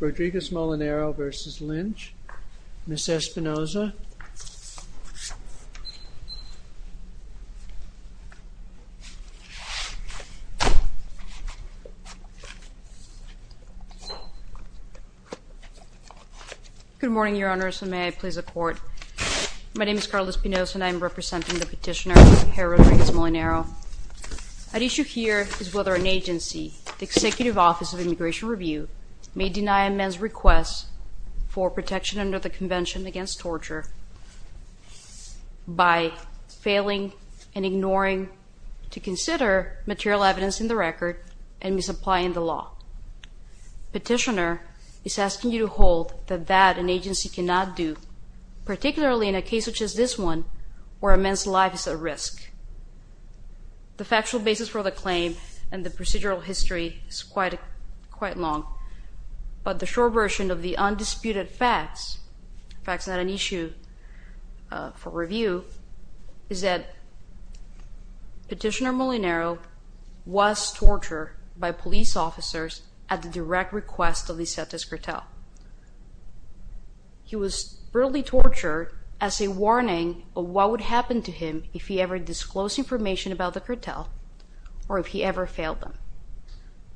Rodriguez-Molinero v. Lynch. Ms. Espinosa. Good morning, Your Honors, and may I please the court. My name is Carla Espinosa and I'm representing the petitioner, Herr Rodriguez-Molinero. At issue here is whether an agency, the Executive Office of Immigration Review, may deny a man's request for protection under the Convention Against Torture by failing and ignoring to consider material evidence in the record and misapplying the law. Petitioner is asking you to hold that that an agency cannot do, particularly in a case such as this one where a man's life is at risk. The factual basis for the claim and the procedural history is quite long, but the short version of the undisputed facts, in fact it's not an issue for review, is that Petitioner Molinero was tortured by police officers at the direct request of the Setez if he ever disclosed information about the cartel or if he ever failed them.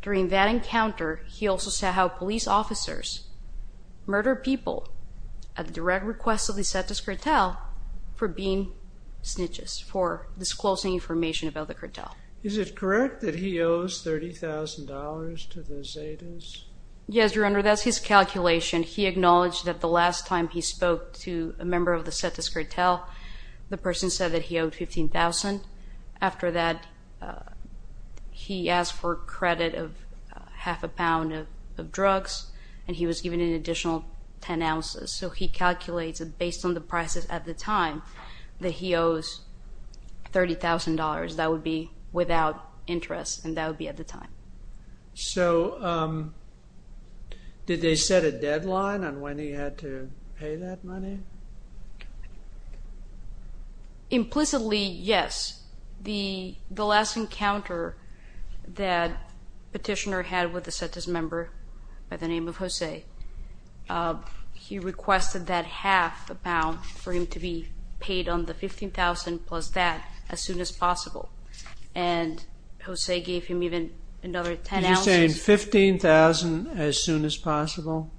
During that encounter, he also said how police officers murder people at the direct request of the Setez cartel for being snitches, for disclosing information about the cartel. Is it correct that he owes $30,000 to the Zetas? Yes, Your Honor, that's his calculation. He acknowledged that the last time he spoke to a member of the Setez cartel, the person said that he owed $15,000. After that, he asked for credit of half a pound of drugs, and he was given an additional 10 ounces. So he calculates, based on the prices at the time, that he owes $30,000. That would be without interest, and that would be at the time. So did they set a deadline on when he had to pay that money? Implicitly, yes. The last encounter that Petitioner had with a Setez member by the name of Jose, he requested that half a pound for him to be paid on the $15,000 plus that, as soon as possible. And Jose gave him even another 10 ounces. You're saying $15,000 as soon as possible,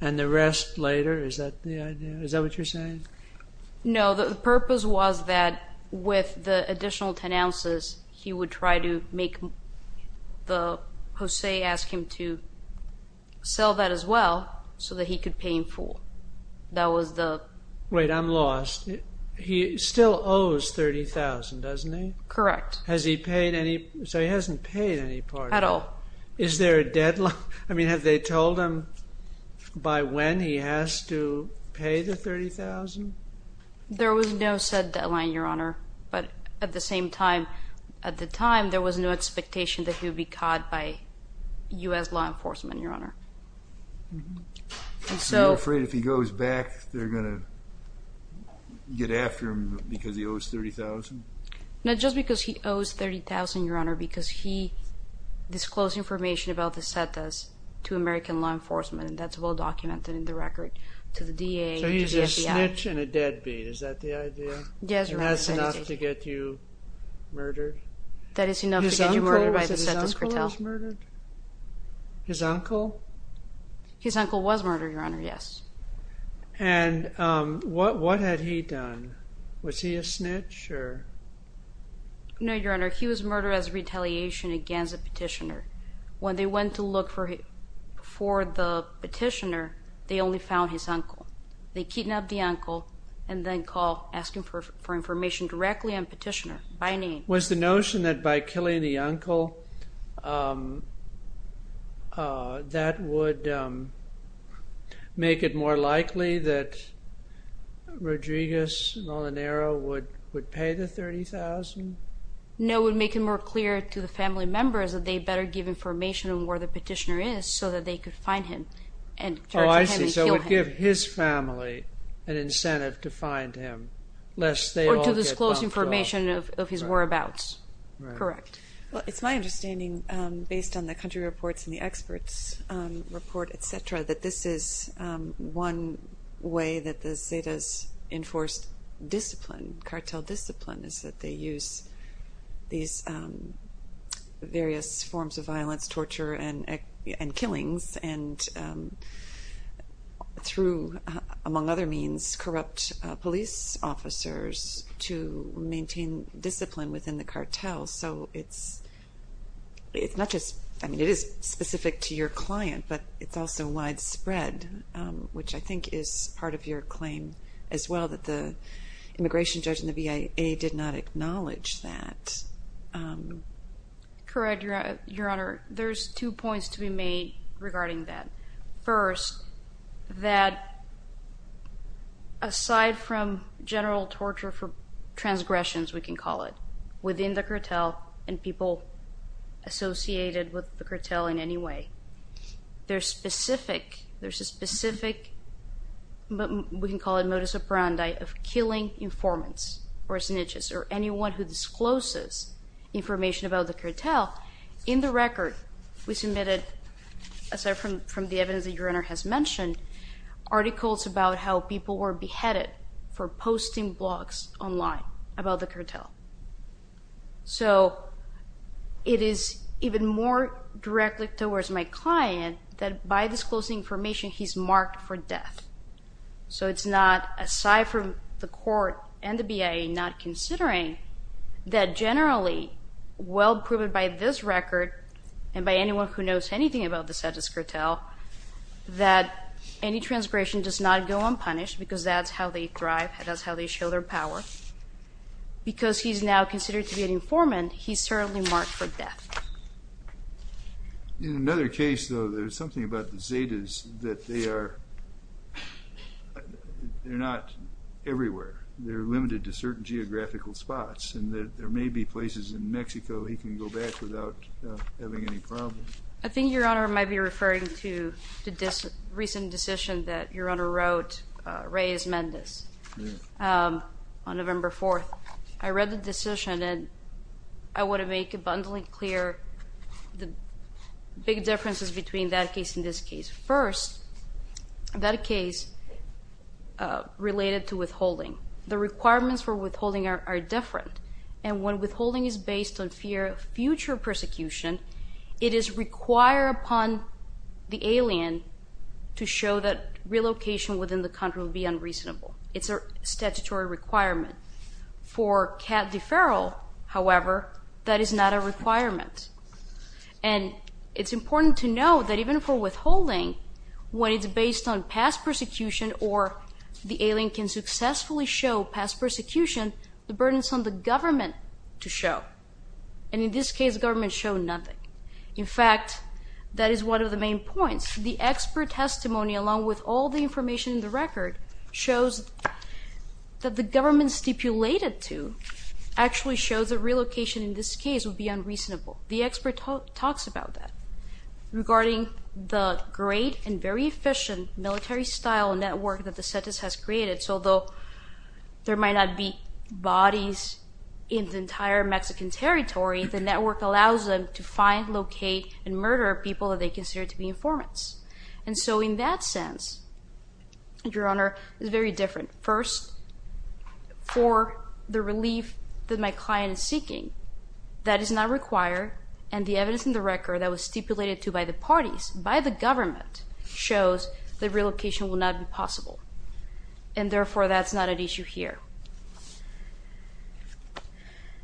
and the rest later? Is that what you're saying? No, the purpose was that, with the additional 10 ounces, he would try to make Jose ask him to sell that as well, so that he could pay him full. That was the... Wait, I'm lost. He still owes $30,000, doesn't he? Correct. Has he paid any... So he hasn't paid any part of it. At all. Is there a deadline? I mean, have they told him by when he has to pay the $30,000? There was no said deadline, Your Honor. But at the same time, at the time, there was no expectation that he would be caught by U.S. law enforcement, Your Honor. And so... Are you afraid if he goes back, they're going to get after him because he owes $30,000? Not just because he owes $30,000, Your Honor, because he disclosed information about the Setas to American law enforcement, and that's well documented in the record to the DA and the FBI. So he's a snitch and a deadbeat. Is that the idea? Yes, Your Honor. And that's enough to get you murdered? That is enough to get you murdered by the Setas cartel? His uncle was murdered? His uncle? His uncle was murdered, Your Honor, yes. And what had he done? Was he a snitch or...? No, Your Honor. He was murdered as retaliation against a petitioner. When they went to look for the petitioner, they only found his uncle. They kidnapped the uncle and then called, asking for information directly on petitioner by name. Was the notion that by killing the uncle, that would make it more likely that Rodriguez Molinero would pay the $30,000? No, it would make it more clear to the family members that they better give information on where the petitioner is so that they could find him and charge him and kill him. Oh, I see. So it would give his family an incentive to find him, lest they all get bumped off. Or to disclose information of his whereabouts. Correct. Well, it's my understanding, based on the country reports and the experts' report, etc., that this is one way that the Setas enforced discipline, cartel discipline, is that they use these various forms of violence, torture, and killings, and through, among other means, corrupt police officers to maintain discipline within the cartel. So it's not just, I mean, it is specific to your client, but it's also widespread, which I think is part of your claim as well, that the immigration judge in the V.A.A. did not acknowledge that. Correct, Your Honor. There's two points to be made regarding that. First, that aside from general torture for transgressions, we can call it, within the cartel and people associated with the cartel in any way, there's a specific, we can call it modus operandi, of killing informants, or snitches, or anyone who discloses information about the cartel. In the record, we submitted, aside from the evidence that Your Honor has mentioned, articles about how people were beheaded for posting blogs online about the cartel. So it is even more directly towards my client that by disclosing information, he's marked for death. So it's not, aside from the court and the V.A.A. not considering, that generally, well-proven by this record, and by anyone who knows anything about the Zetas cartel, that any transgression does not go unpunished, because that's how they thrive, that's how they show their power. Because he's now considered to be an informant, he's certainly marked for death. In another case, though, there's something about the Zetas that they are, they're not everywhere, they're limited to certain geographical spots, and that there may be places in Mexico he can go back without having any problems. I think Your Honor might be referring to the recent decision that Your Honor wrote, Reyes-Mendez, on November 4th. I read the decision, and I want to make abundantly clear the big differences between that case and this case. First, that case related to withholding. The requirements for withholding are different, and when withholding is based on fear of future unreasonable. It's a statutory requirement. For cat deferral, however, that is not a requirement. And it's important to know that even for withholding, when it's based on past persecution, or the alien can successfully show past persecution, the burden is on the government to show. And in this case, the government showed nothing. In fact, that is one of the main points. The expert testimony, along with all the information in the record, shows that the government stipulated to actually shows a relocation in this case would be unreasonable. The expert talks about that. Regarding the great and very efficient military-style network that the Zetas has created, so although there might not be bodies in the entire Mexican territory, the network allows them to find, locate, and murder people that they consider to be informants. And so in that sense, Your Honor, it's very different. First, for the relief that my client is seeking, that is not required, and the evidence in the record that was stipulated to by the parties, by the government, shows that relocation will not be possible. And therefore, that's not an issue here.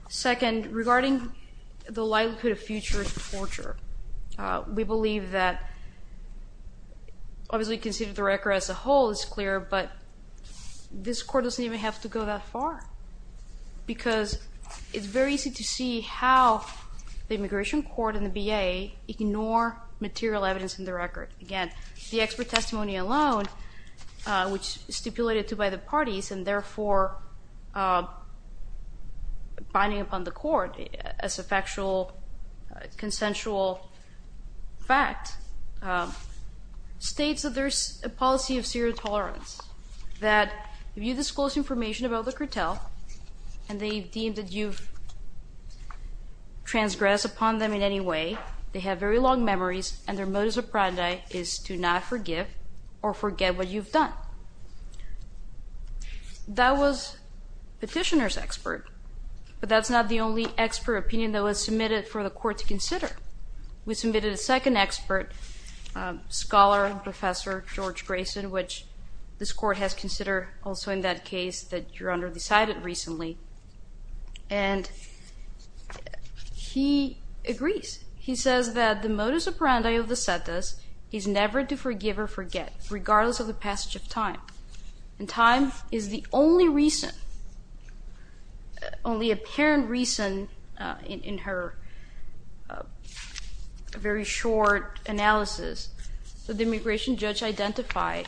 Second, regarding the likelihood of future torture, we believe that, obviously, considering the record as a whole is clear, but this court doesn't even have to go that far, because it's very easy to see how the immigration court and the B.A. ignore material evidence in the record. Again, the expert testimony alone, which is stipulated to by the parties and therefore binding upon the court as a factual, consensual fact, states that there's a policy of serial tolerance, that if you disclose information about the cartel and they deem that you've transgressed upon them in any way, they have very long memories, and their modus operandi is to not forgive or forget what you've done. That was petitioner's expert, but that's not the only expert opinion that was submitted for the court to consider. We submitted a second expert, scholar, professor George Grayson, which this agrees. He says that the modus operandi of the sentas is never to forgive or forget, regardless of the passage of time. And time is the only apparent reason, in her very short analysis, that the immigration judge identified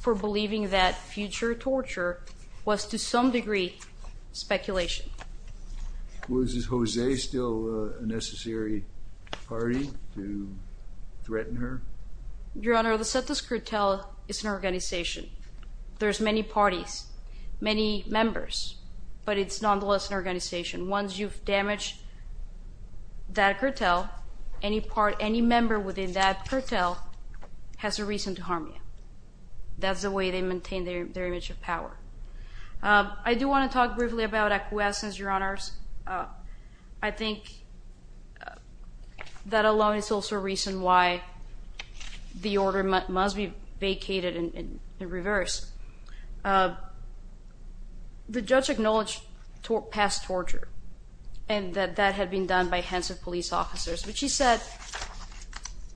for believing that future torture was to some degree speculation. Was Jose still a necessary party to threaten her? Your Honor, the sentas cartel is an organization. There's many parties, many members, but it's nonetheless an organization. Once you've damaged that cartel, any part, any member within that cartel has the power. I do want to talk briefly about acquiescence, Your Honors. I think that alone is also a reason why the order must be vacated in reverse. The judge acknowledged past torture and that that had been done by hands of police officers, but she said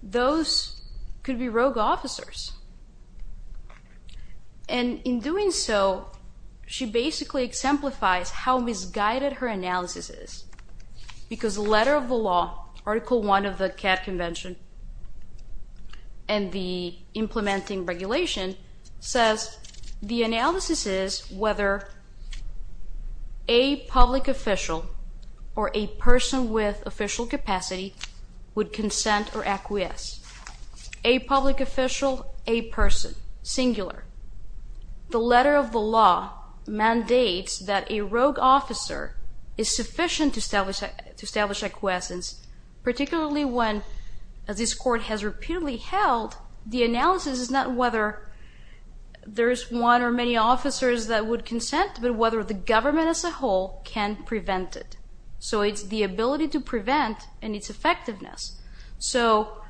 those could be rogue officers. And in doing so, she basically exemplifies how misguided her analysis is, because the letter of the law, Article I of the CAT Convention, and the implementing regulation, says the analysis is whether a public official or a person with official capacity would consent or acquiesce. A public official, a person, singular. The letter of the law mandates that a rogue officer is sufficient to establish acquiescence, particularly when, as this Court has repeatedly held, the analysis is not whether there is one or many officers that would consent, but whether the government as a whole can prevent it. So, it's the ability to prevent and its effectiveness. So,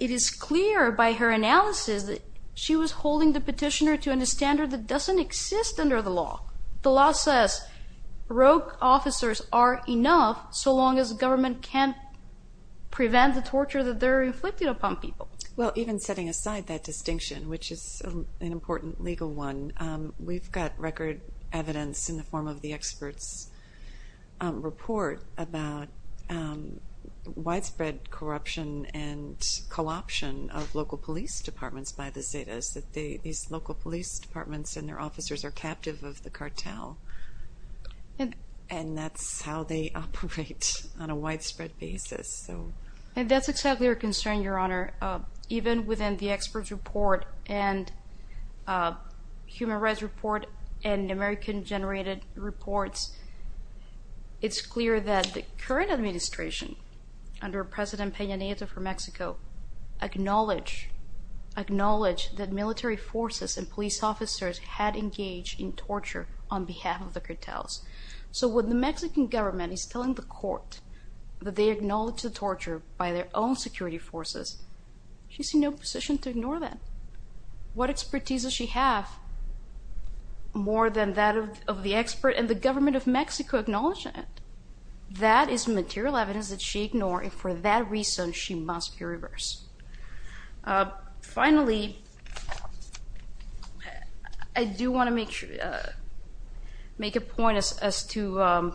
it is clear by her analysis that she was holding the petitioner to a standard that doesn't exist under the law. The law says rogue officers are enough so long as the government can't prevent the torture that they're inflicted upon people. Well, even setting aside that distinction, which is an important legal one, we've got record evidence in the form of the expert's report about widespread corruption and co-option of local police departments by the Zetas, that these local police departments and their officers are captive of the cartel. And that's how they operate on a widespread basis. And that's exactly our concern, Your Honor. Even within the expert's report and human rights report and American-generated reports, it's clear that the current administration, under President Peña Nieto for Mexico, acknowledged that military forces and police officers had engaged in torture on behalf of the cartels. So, when the Mexican government is telling the Court that they acknowledged the security forces, she's in no position to ignore that. What expertise does she have more than that of the expert and the government of Mexico acknowledging it? That is material evidence that she ignores, and for that reason, she must be reversed. Finally, I do want to make a point as to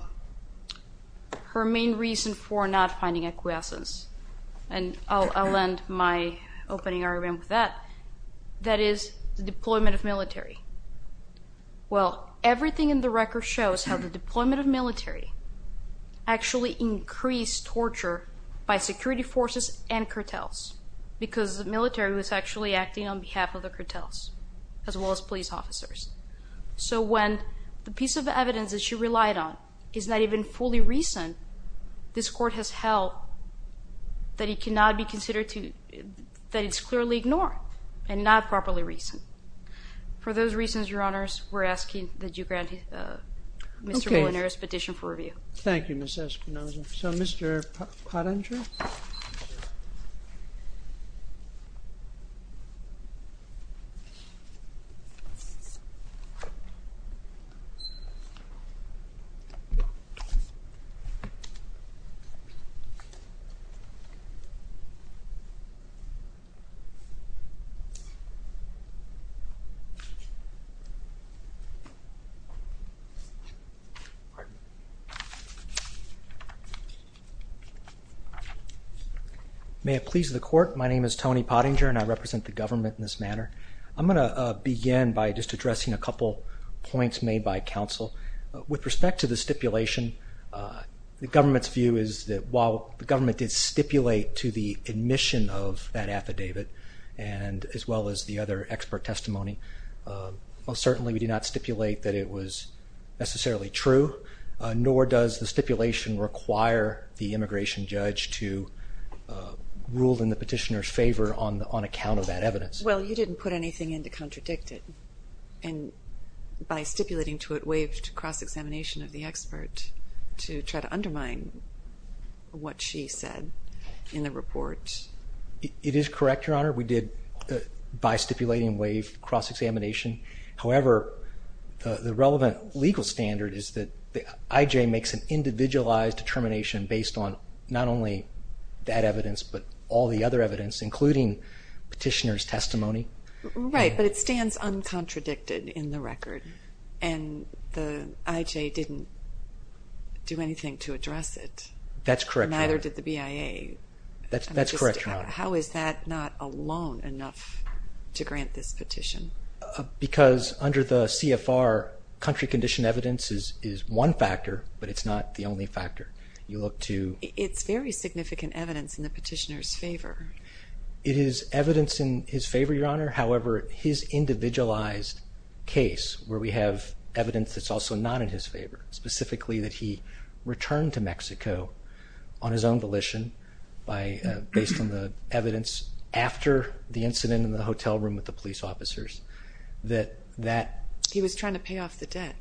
her main reason for not finding acquiescence. And I'll end my opening argument with that. That is the deployment of military. Well, everything in the record shows how the deployment of military actually increased torture by security forces and cartels, because the military was actually acting on behalf of the cartels, as well as police officers. So, when the piece of evidence that she relied on is not even fully recent, this Court has held that it cannot be considered that it's clearly ignored and not properly recent. For those reasons, Your Honors, we're asking that you grant Mr. Molinaro's petition for review. Thank you, Ms. Espinosa. So, Mr. Padandre? May it please the Court, my name is Tony Padandre, and I represent the government in this manner. I'm going to begin by just addressing a couple points made by counsel. With respect to the stipulation, the government's view is that while the government did stipulate to the admission of that affidavit, and as well as the other expert testimony, most certainly we did not stipulate that it was necessarily true, nor does the stipulation require the immigration judge to rule in the petitioner's favor on account of that evidence. Well, you didn't put anything in to contradict it, and by stipulating to it waived cross-examination of the expert to try to undermine what she said in the report. It is correct, Your Honor. We did, by stipulating, waive cross-examination. However, the relevant legal standard is that the IJ makes an individualized determination based on not only that evidence, but all the other evidence, including petitioner's testimony. Right, but it stands uncontradicted in the record, and the IJ didn't do anything to address it. That's correct, Your Honor. Neither did the BIA. That's correct, Your Honor. How is that not alone enough to grant this petition? Because under the CFR, country condition evidence is one factor, but it's not the only factor. You look to... It's very significant evidence in the petitioner's favor. It is evidence in his favor, Your Honor. However, his individualized case, where we have evidence that's also not in his favor, specifically that he returned to Mexico on his own volition based on the evidence after the incident in the hotel room with the police officers, that that... He was trying to pay off the debt.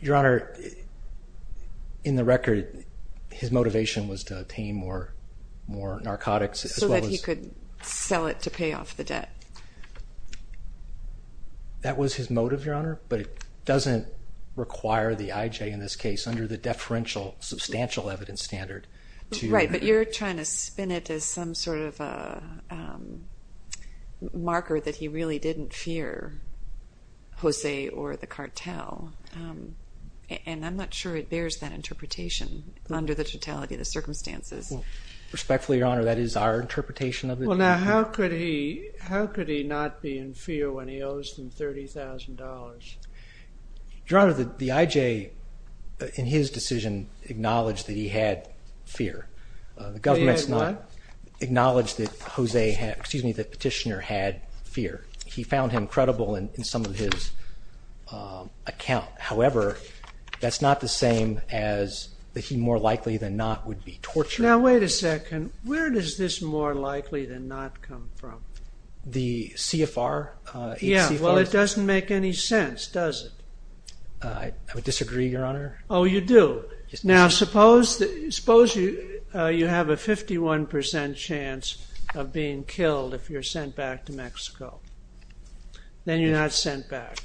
Your Honor, in the record, his motivation was to obtain more narcotics as well as... So that he could sell it to pay off the debt. That was his motive, Your Honor, but it doesn't require the IJ in this case, under the deferential substantial evidence standard, to... Right, but you're trying to spin it as some sort of a marker that he really didn't fear Jose or the cartel, and I'm not sure it bears that interpretation under the totality of the circumstances. Respectfully, Your Honor, that is our interpretation of the... Well, now, how could he not be in fear when he owes them $30,000? Your Honor, the IJ, in his decision, acknowledged that he had fear. The government's not... That he had what? Acknowledged that Jose had... Excuse me, that petitioner had fear. He found him credible in some of his account. However, that's not the same as that he more likely than not would be tortured. Now, wait a second. Where does this more likely than not come from? The CFR? Yeah, well, it doesn't make any sense, does it? I would disagree, Your Honor. Oh, you do? Now, suppose you have a 51% chance of being killed if you're sent back to Mexico. Then you're not sent back,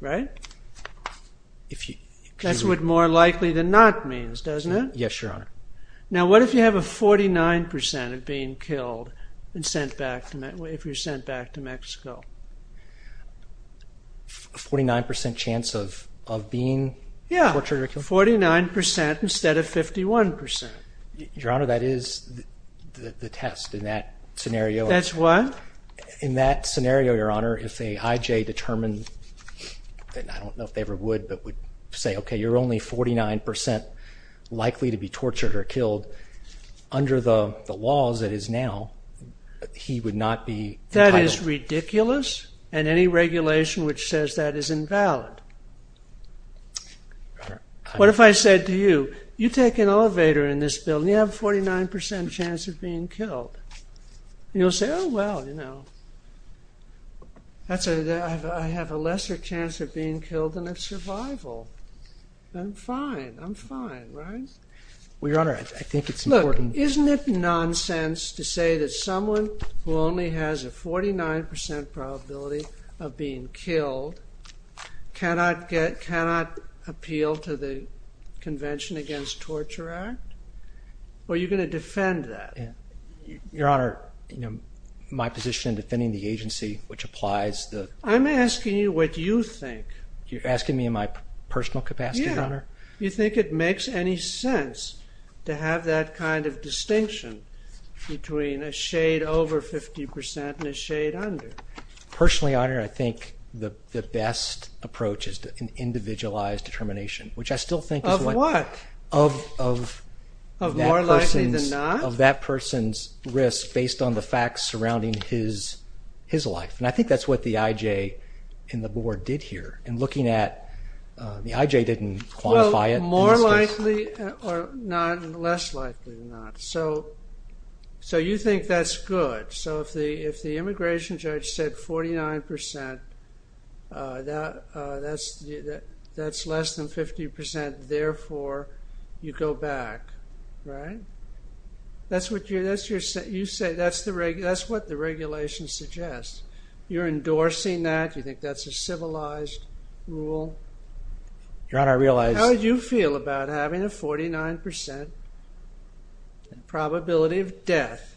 right? If you... That's what more likely than not means, doesn't it? Yes, Your Honor. Now, what if you have a 49% of being killed if you're sent back to Mexico? 49% chance of being tortured or killed? Yeah, 49% instead of 51%. Your Honor, that is the test in that scenario. That's what? In that scenario, Your Honor, if a IJ determined... I don't know if they ever would, but would say, okay, you're only 49% likely to be tortured or killed. Under the laws that is now, he would not be entitled... That is ridiculous and any regulation which says that is invalid. What if I said to you, you take an elevator in this building, you have 49% chance of being killed. You'll say, oh, well, I have a lesser chance of being killed than of survival. I'm fine, I'm fine, right? Well, Your Honor, I think it's important... Look, isn't it nonsense to say that someone who only has a 49% probability of being killed cannot appeal to the Convention Against Torture Act? Well, you're going to defend that? Yeah. Your Honor, my position in defending the agency, which applies to... I'm asking you what you think. You're asking me in my personal capacity, Your Honor? Yeah. You think it makes any sense to have that kind of distinction between a shade over 50% and a shade under? Personally, Your Honor, I think the best approach is an individualized determination, which I still think is what... Of what? Of more likely than not? Of that person's risk based on the facts surrounding his life. And I think that's what the IJ and the board did here in looking at... The IJ didn't quantify it. Well, more likely or less likely than not. So you think that's good? So if the immigration judge said 49%, that's less than 50%, therefore you go back, right? That's what the regulation suggests. You're endorsing that? You think that's a civilized rule? Your Honor, I realize... How do you feel about having a 49% probability of death?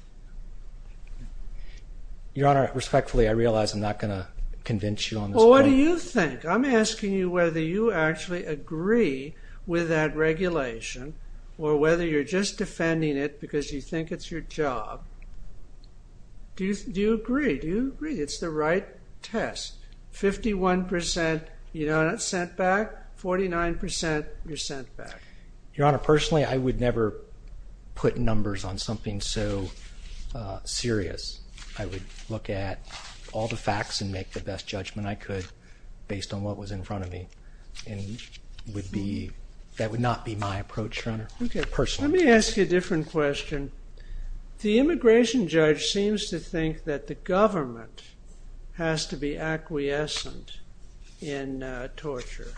Your Honor, respectfully, I realize I'm not going to convince you on this point. Well, what do you think? I'm asking you whether you actually agree with that regulation or whether you're just defending it because you think it's your job. Do you agree? Do you agree it's the right test? 51%, you're not sent back. 49%, you're sent back. Your Honor, personally, I would never put numbers on something so serious. I would look at all the facts and make the best judgment I could based on what was in front of me. And that would not be my approach, Your Honor, personally. Let me ask you a different question. The immigration judge seems to think that the government has to be acquiescent in torture.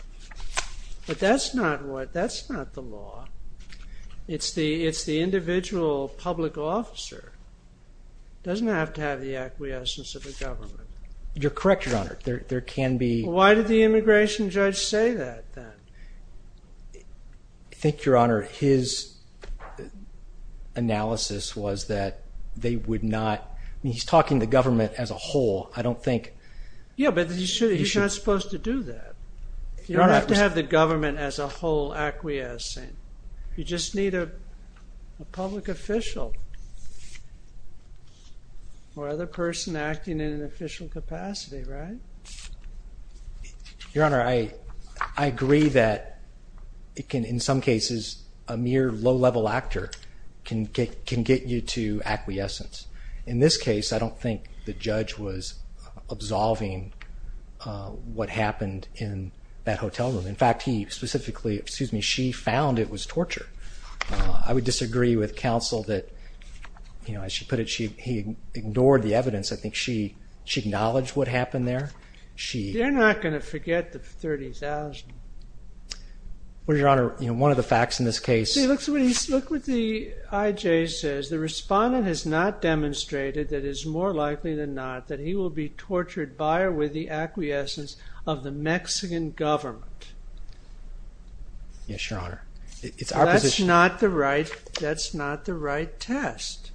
But that's not the law. It's the individual public officer. It doesn't have to have the acquiescence of the government. You're correct, Your Honor, there can be... Why did the immigration judge say that then? I think, Your Honor, his analysis was that they would not... He's talking the government as a whole. I don't think... Yeah, but he's not supposed to do that. You don't have to have the government as a whole acquiescing. You just need a public official or other person acting in an official capacity, right? Your Honor, I agree that it can... In some cases, a mere low-level actor can get you to acquiescence. In this case, I don't think the judge was absolving what happened in that hotel room. In fact, he specifically... Excuse me, she found it was torture. I would disagree with counsel that, as she put it, he ignored the evidence. I think she acknowledged what happened there. They're not going to forget the 30,000. Well, Your Honor, one of the facts in this case... See, look what the IJ says. The respondent has not demonstrated that it is more likely than not that he will be tortured by or with the acquiescence of the Mexican government. Yes, Your Honor. That's not the right test.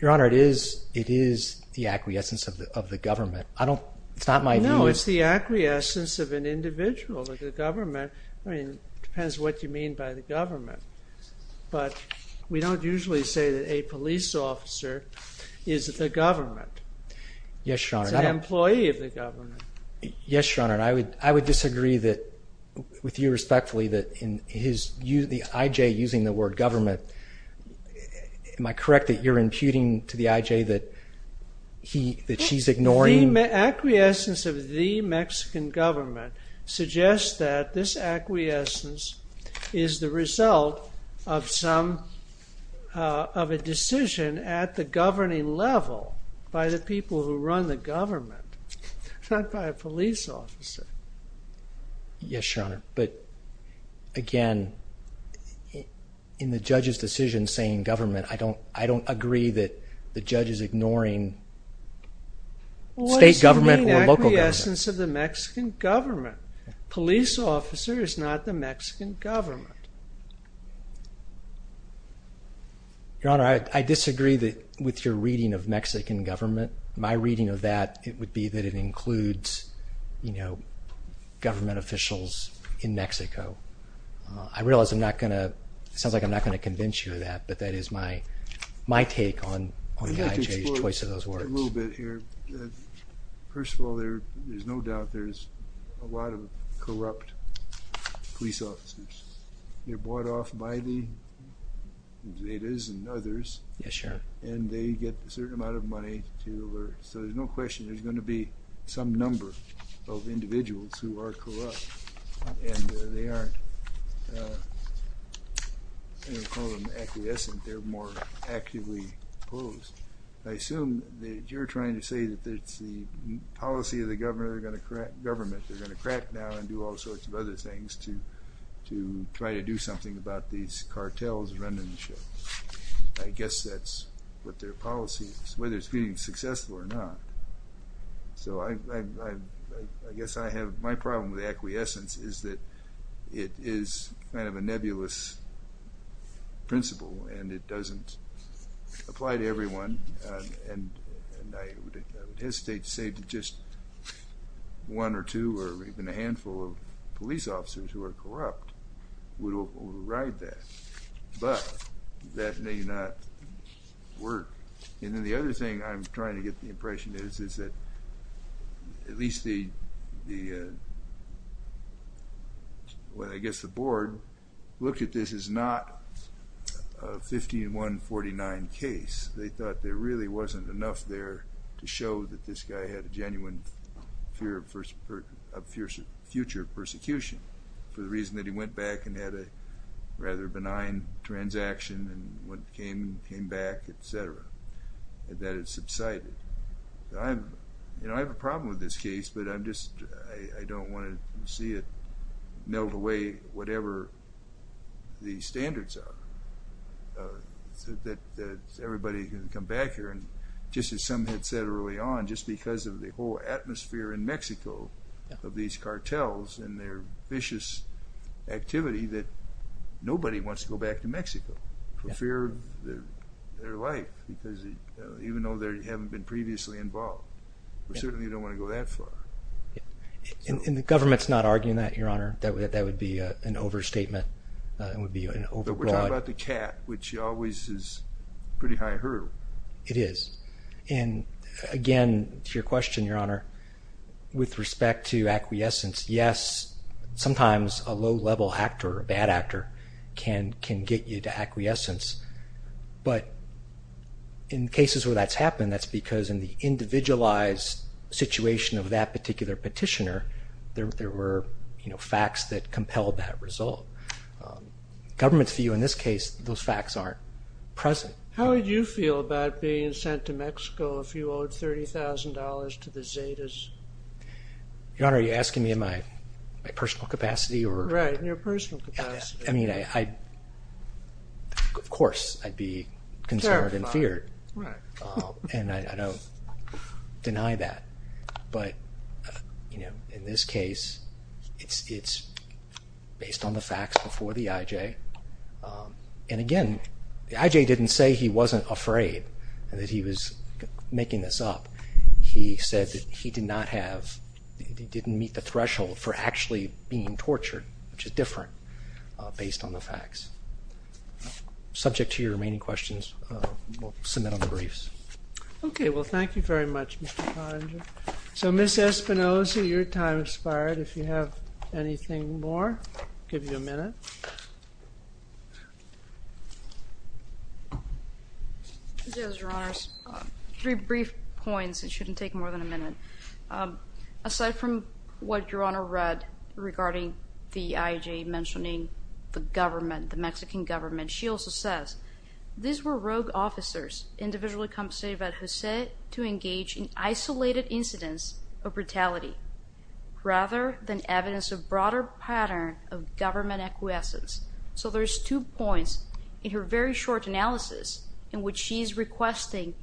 Your Honor, it is the acquiescence of the government. It's not my view. No, it's the acquiescence of an individual, of the government. I mean, it depends what you mean by the government. But we don't usually say that a police officer is the government. Yes, Your Honor. He's an employee of the government. Yes, Your Honor. And I would disagree with you respectfully that the IJ using the word government... Am I correct that you're imputing to the IJ that she's ignoring... Acquiescence of the Mexican government suggests that this acquiescence is the result of a decision at the governing level by the people who run the government, not by a police officer. Yes, Your Honor. But again, in the judge's decision saying government, I don't agree that the judge is ignoring... State government or local government. What's the main acquiescence of the Mexican government? Police officer is not the Mexican government. Your Honor, I disagree with your reading of Mexican government. My reading of that, it would be that it includes government officials in Mexico. I realize I'm not going to... It sounds like I'm not going to convince you of that, but that is my take on the IJ's choice of those words. A little bit here. First of all, there's no doubt there's a lot of corrupt police officers. They're bought off by the Zetas and others. Yes, Your Honor. And they get a certain amount of money to... So there's no question there's going to be some number of individuals who are corrupt. And they aren't... I don't call them acquiescent. They're more actively opposed. I assume that you're trying to say that it's the policy of the government. They're going to crack down and do all sorts of other things to try to do something about these cartels running the show. I guess that's what their policy is, whether it's being successful or not. So I guess I have... My problem with acquiescence is that it is kind of a nebulous principle and it doesn't apply to everyone. And I would hesitate to say that just one or two or even a handful of police officers who are corrupt would override that. But that may not work. And then the other thing I'm trying to get the impression is, is that at least the... Well, I guess the board looked at this as not a 15149 case. They thought there really wasn't enough there to show that this guy had a genuine fear of future persecution for the reason that he went back and had a rather benign transaction and when he came back, et cetera, that it subsided. You know, I have a problem with this case, but I'm just... I don't want to see it melt away, whatever the standards are, so that everybody can come back here. And just as some had said early on, just because of the whole atmosphere in Mexico of these cartels and their vicious activity that nobody wants to go back to Mexico. For fear of their life, because even though they haven't been previously involved, we certainly don't want to go that far. And the government's not arguing that, Your Honor, that that would be an overstatement. It would be an overbroad... But we're talking about the cat, which always is pretty high hurdle. It is. And again, to your question, Your Honor, with respect to acquiescence, yes, sometimes a low-level actor, a bad actor, can get you to acquiescence. But in cases where that's happened, that's because in the individualized situation of that particular petitioner, there were facts that compelled that result. Governments view in this case, those facts aren't present. How would you feel about being sent to Mexico if you owed $30,000 to the Zetas? Your Honor, are you asking me in my personal capacity or... Right, in your personal capacity. I mean, of course, I'd be concerned and feared. And I don't deny that. But, you know, in this case, it's based on the facts before the IJ. And again, the IJ didn't say he wasn't afraid, and that he was making this up. He said that he did not have, he didn't meet the threshold for actually being tortured, which is different based on the facts. Subject to your remaining questions, we'll submit on the briefs. Okay, well, thank you very much, Mr. Ponder. So, Ms. Espinoza, your time has expired. If you have anything more, I'll give you a minute. Yes, Your Honor, three brief points. It shouldn't take more than a minute. Aside from what Your Honor read regarding the IJ, mentioning the government, the Mexican government, she also says, these were rogue officers individually compensated by Jose to engage in isolated incidents of brutality, rather than evidence of broader pattern of government acquiescence. So there's two points in her very short analysis in which she's requesting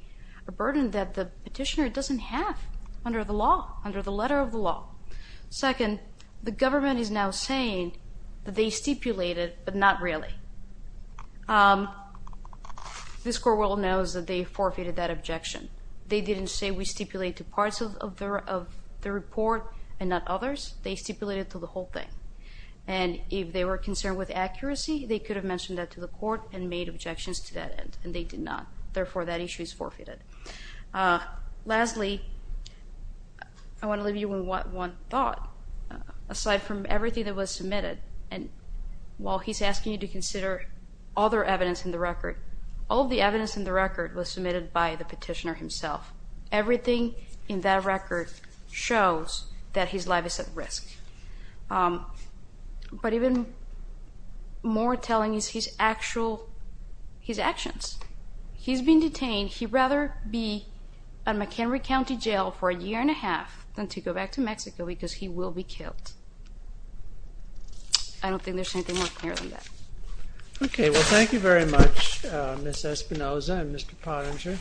a burden that the petitioner doesn't have under the law, under the letter of the law. Second, the government is now saying that they stipulated, but not really. This court will know that they forfeited that objection. They didn't say we stipulate to parts of the report and not others. They stipulated to the whole thing. And if they were concerned with accuracy, they could have mentioned that to the court and made objections to that end, and they did not. Therefore, that issue is forfeited. Lastly, I want to leave you with one thought. Aside from everything that was submitted, and while he's asking you to consider other evidence in the record, all the evidence in the record was submitted by the petitioner himself. Everything in that record shows that he's libelous at risk. But even more telling is his actual, his actions. He's been detained. He'd rather be at McHenry County Jail for a year and a half than to go back to Mexico because he will be killed. I don't think there's anything more clear than that. Okay. Well, thank you very much, Ms. Espinoza and Mr. Pottinger.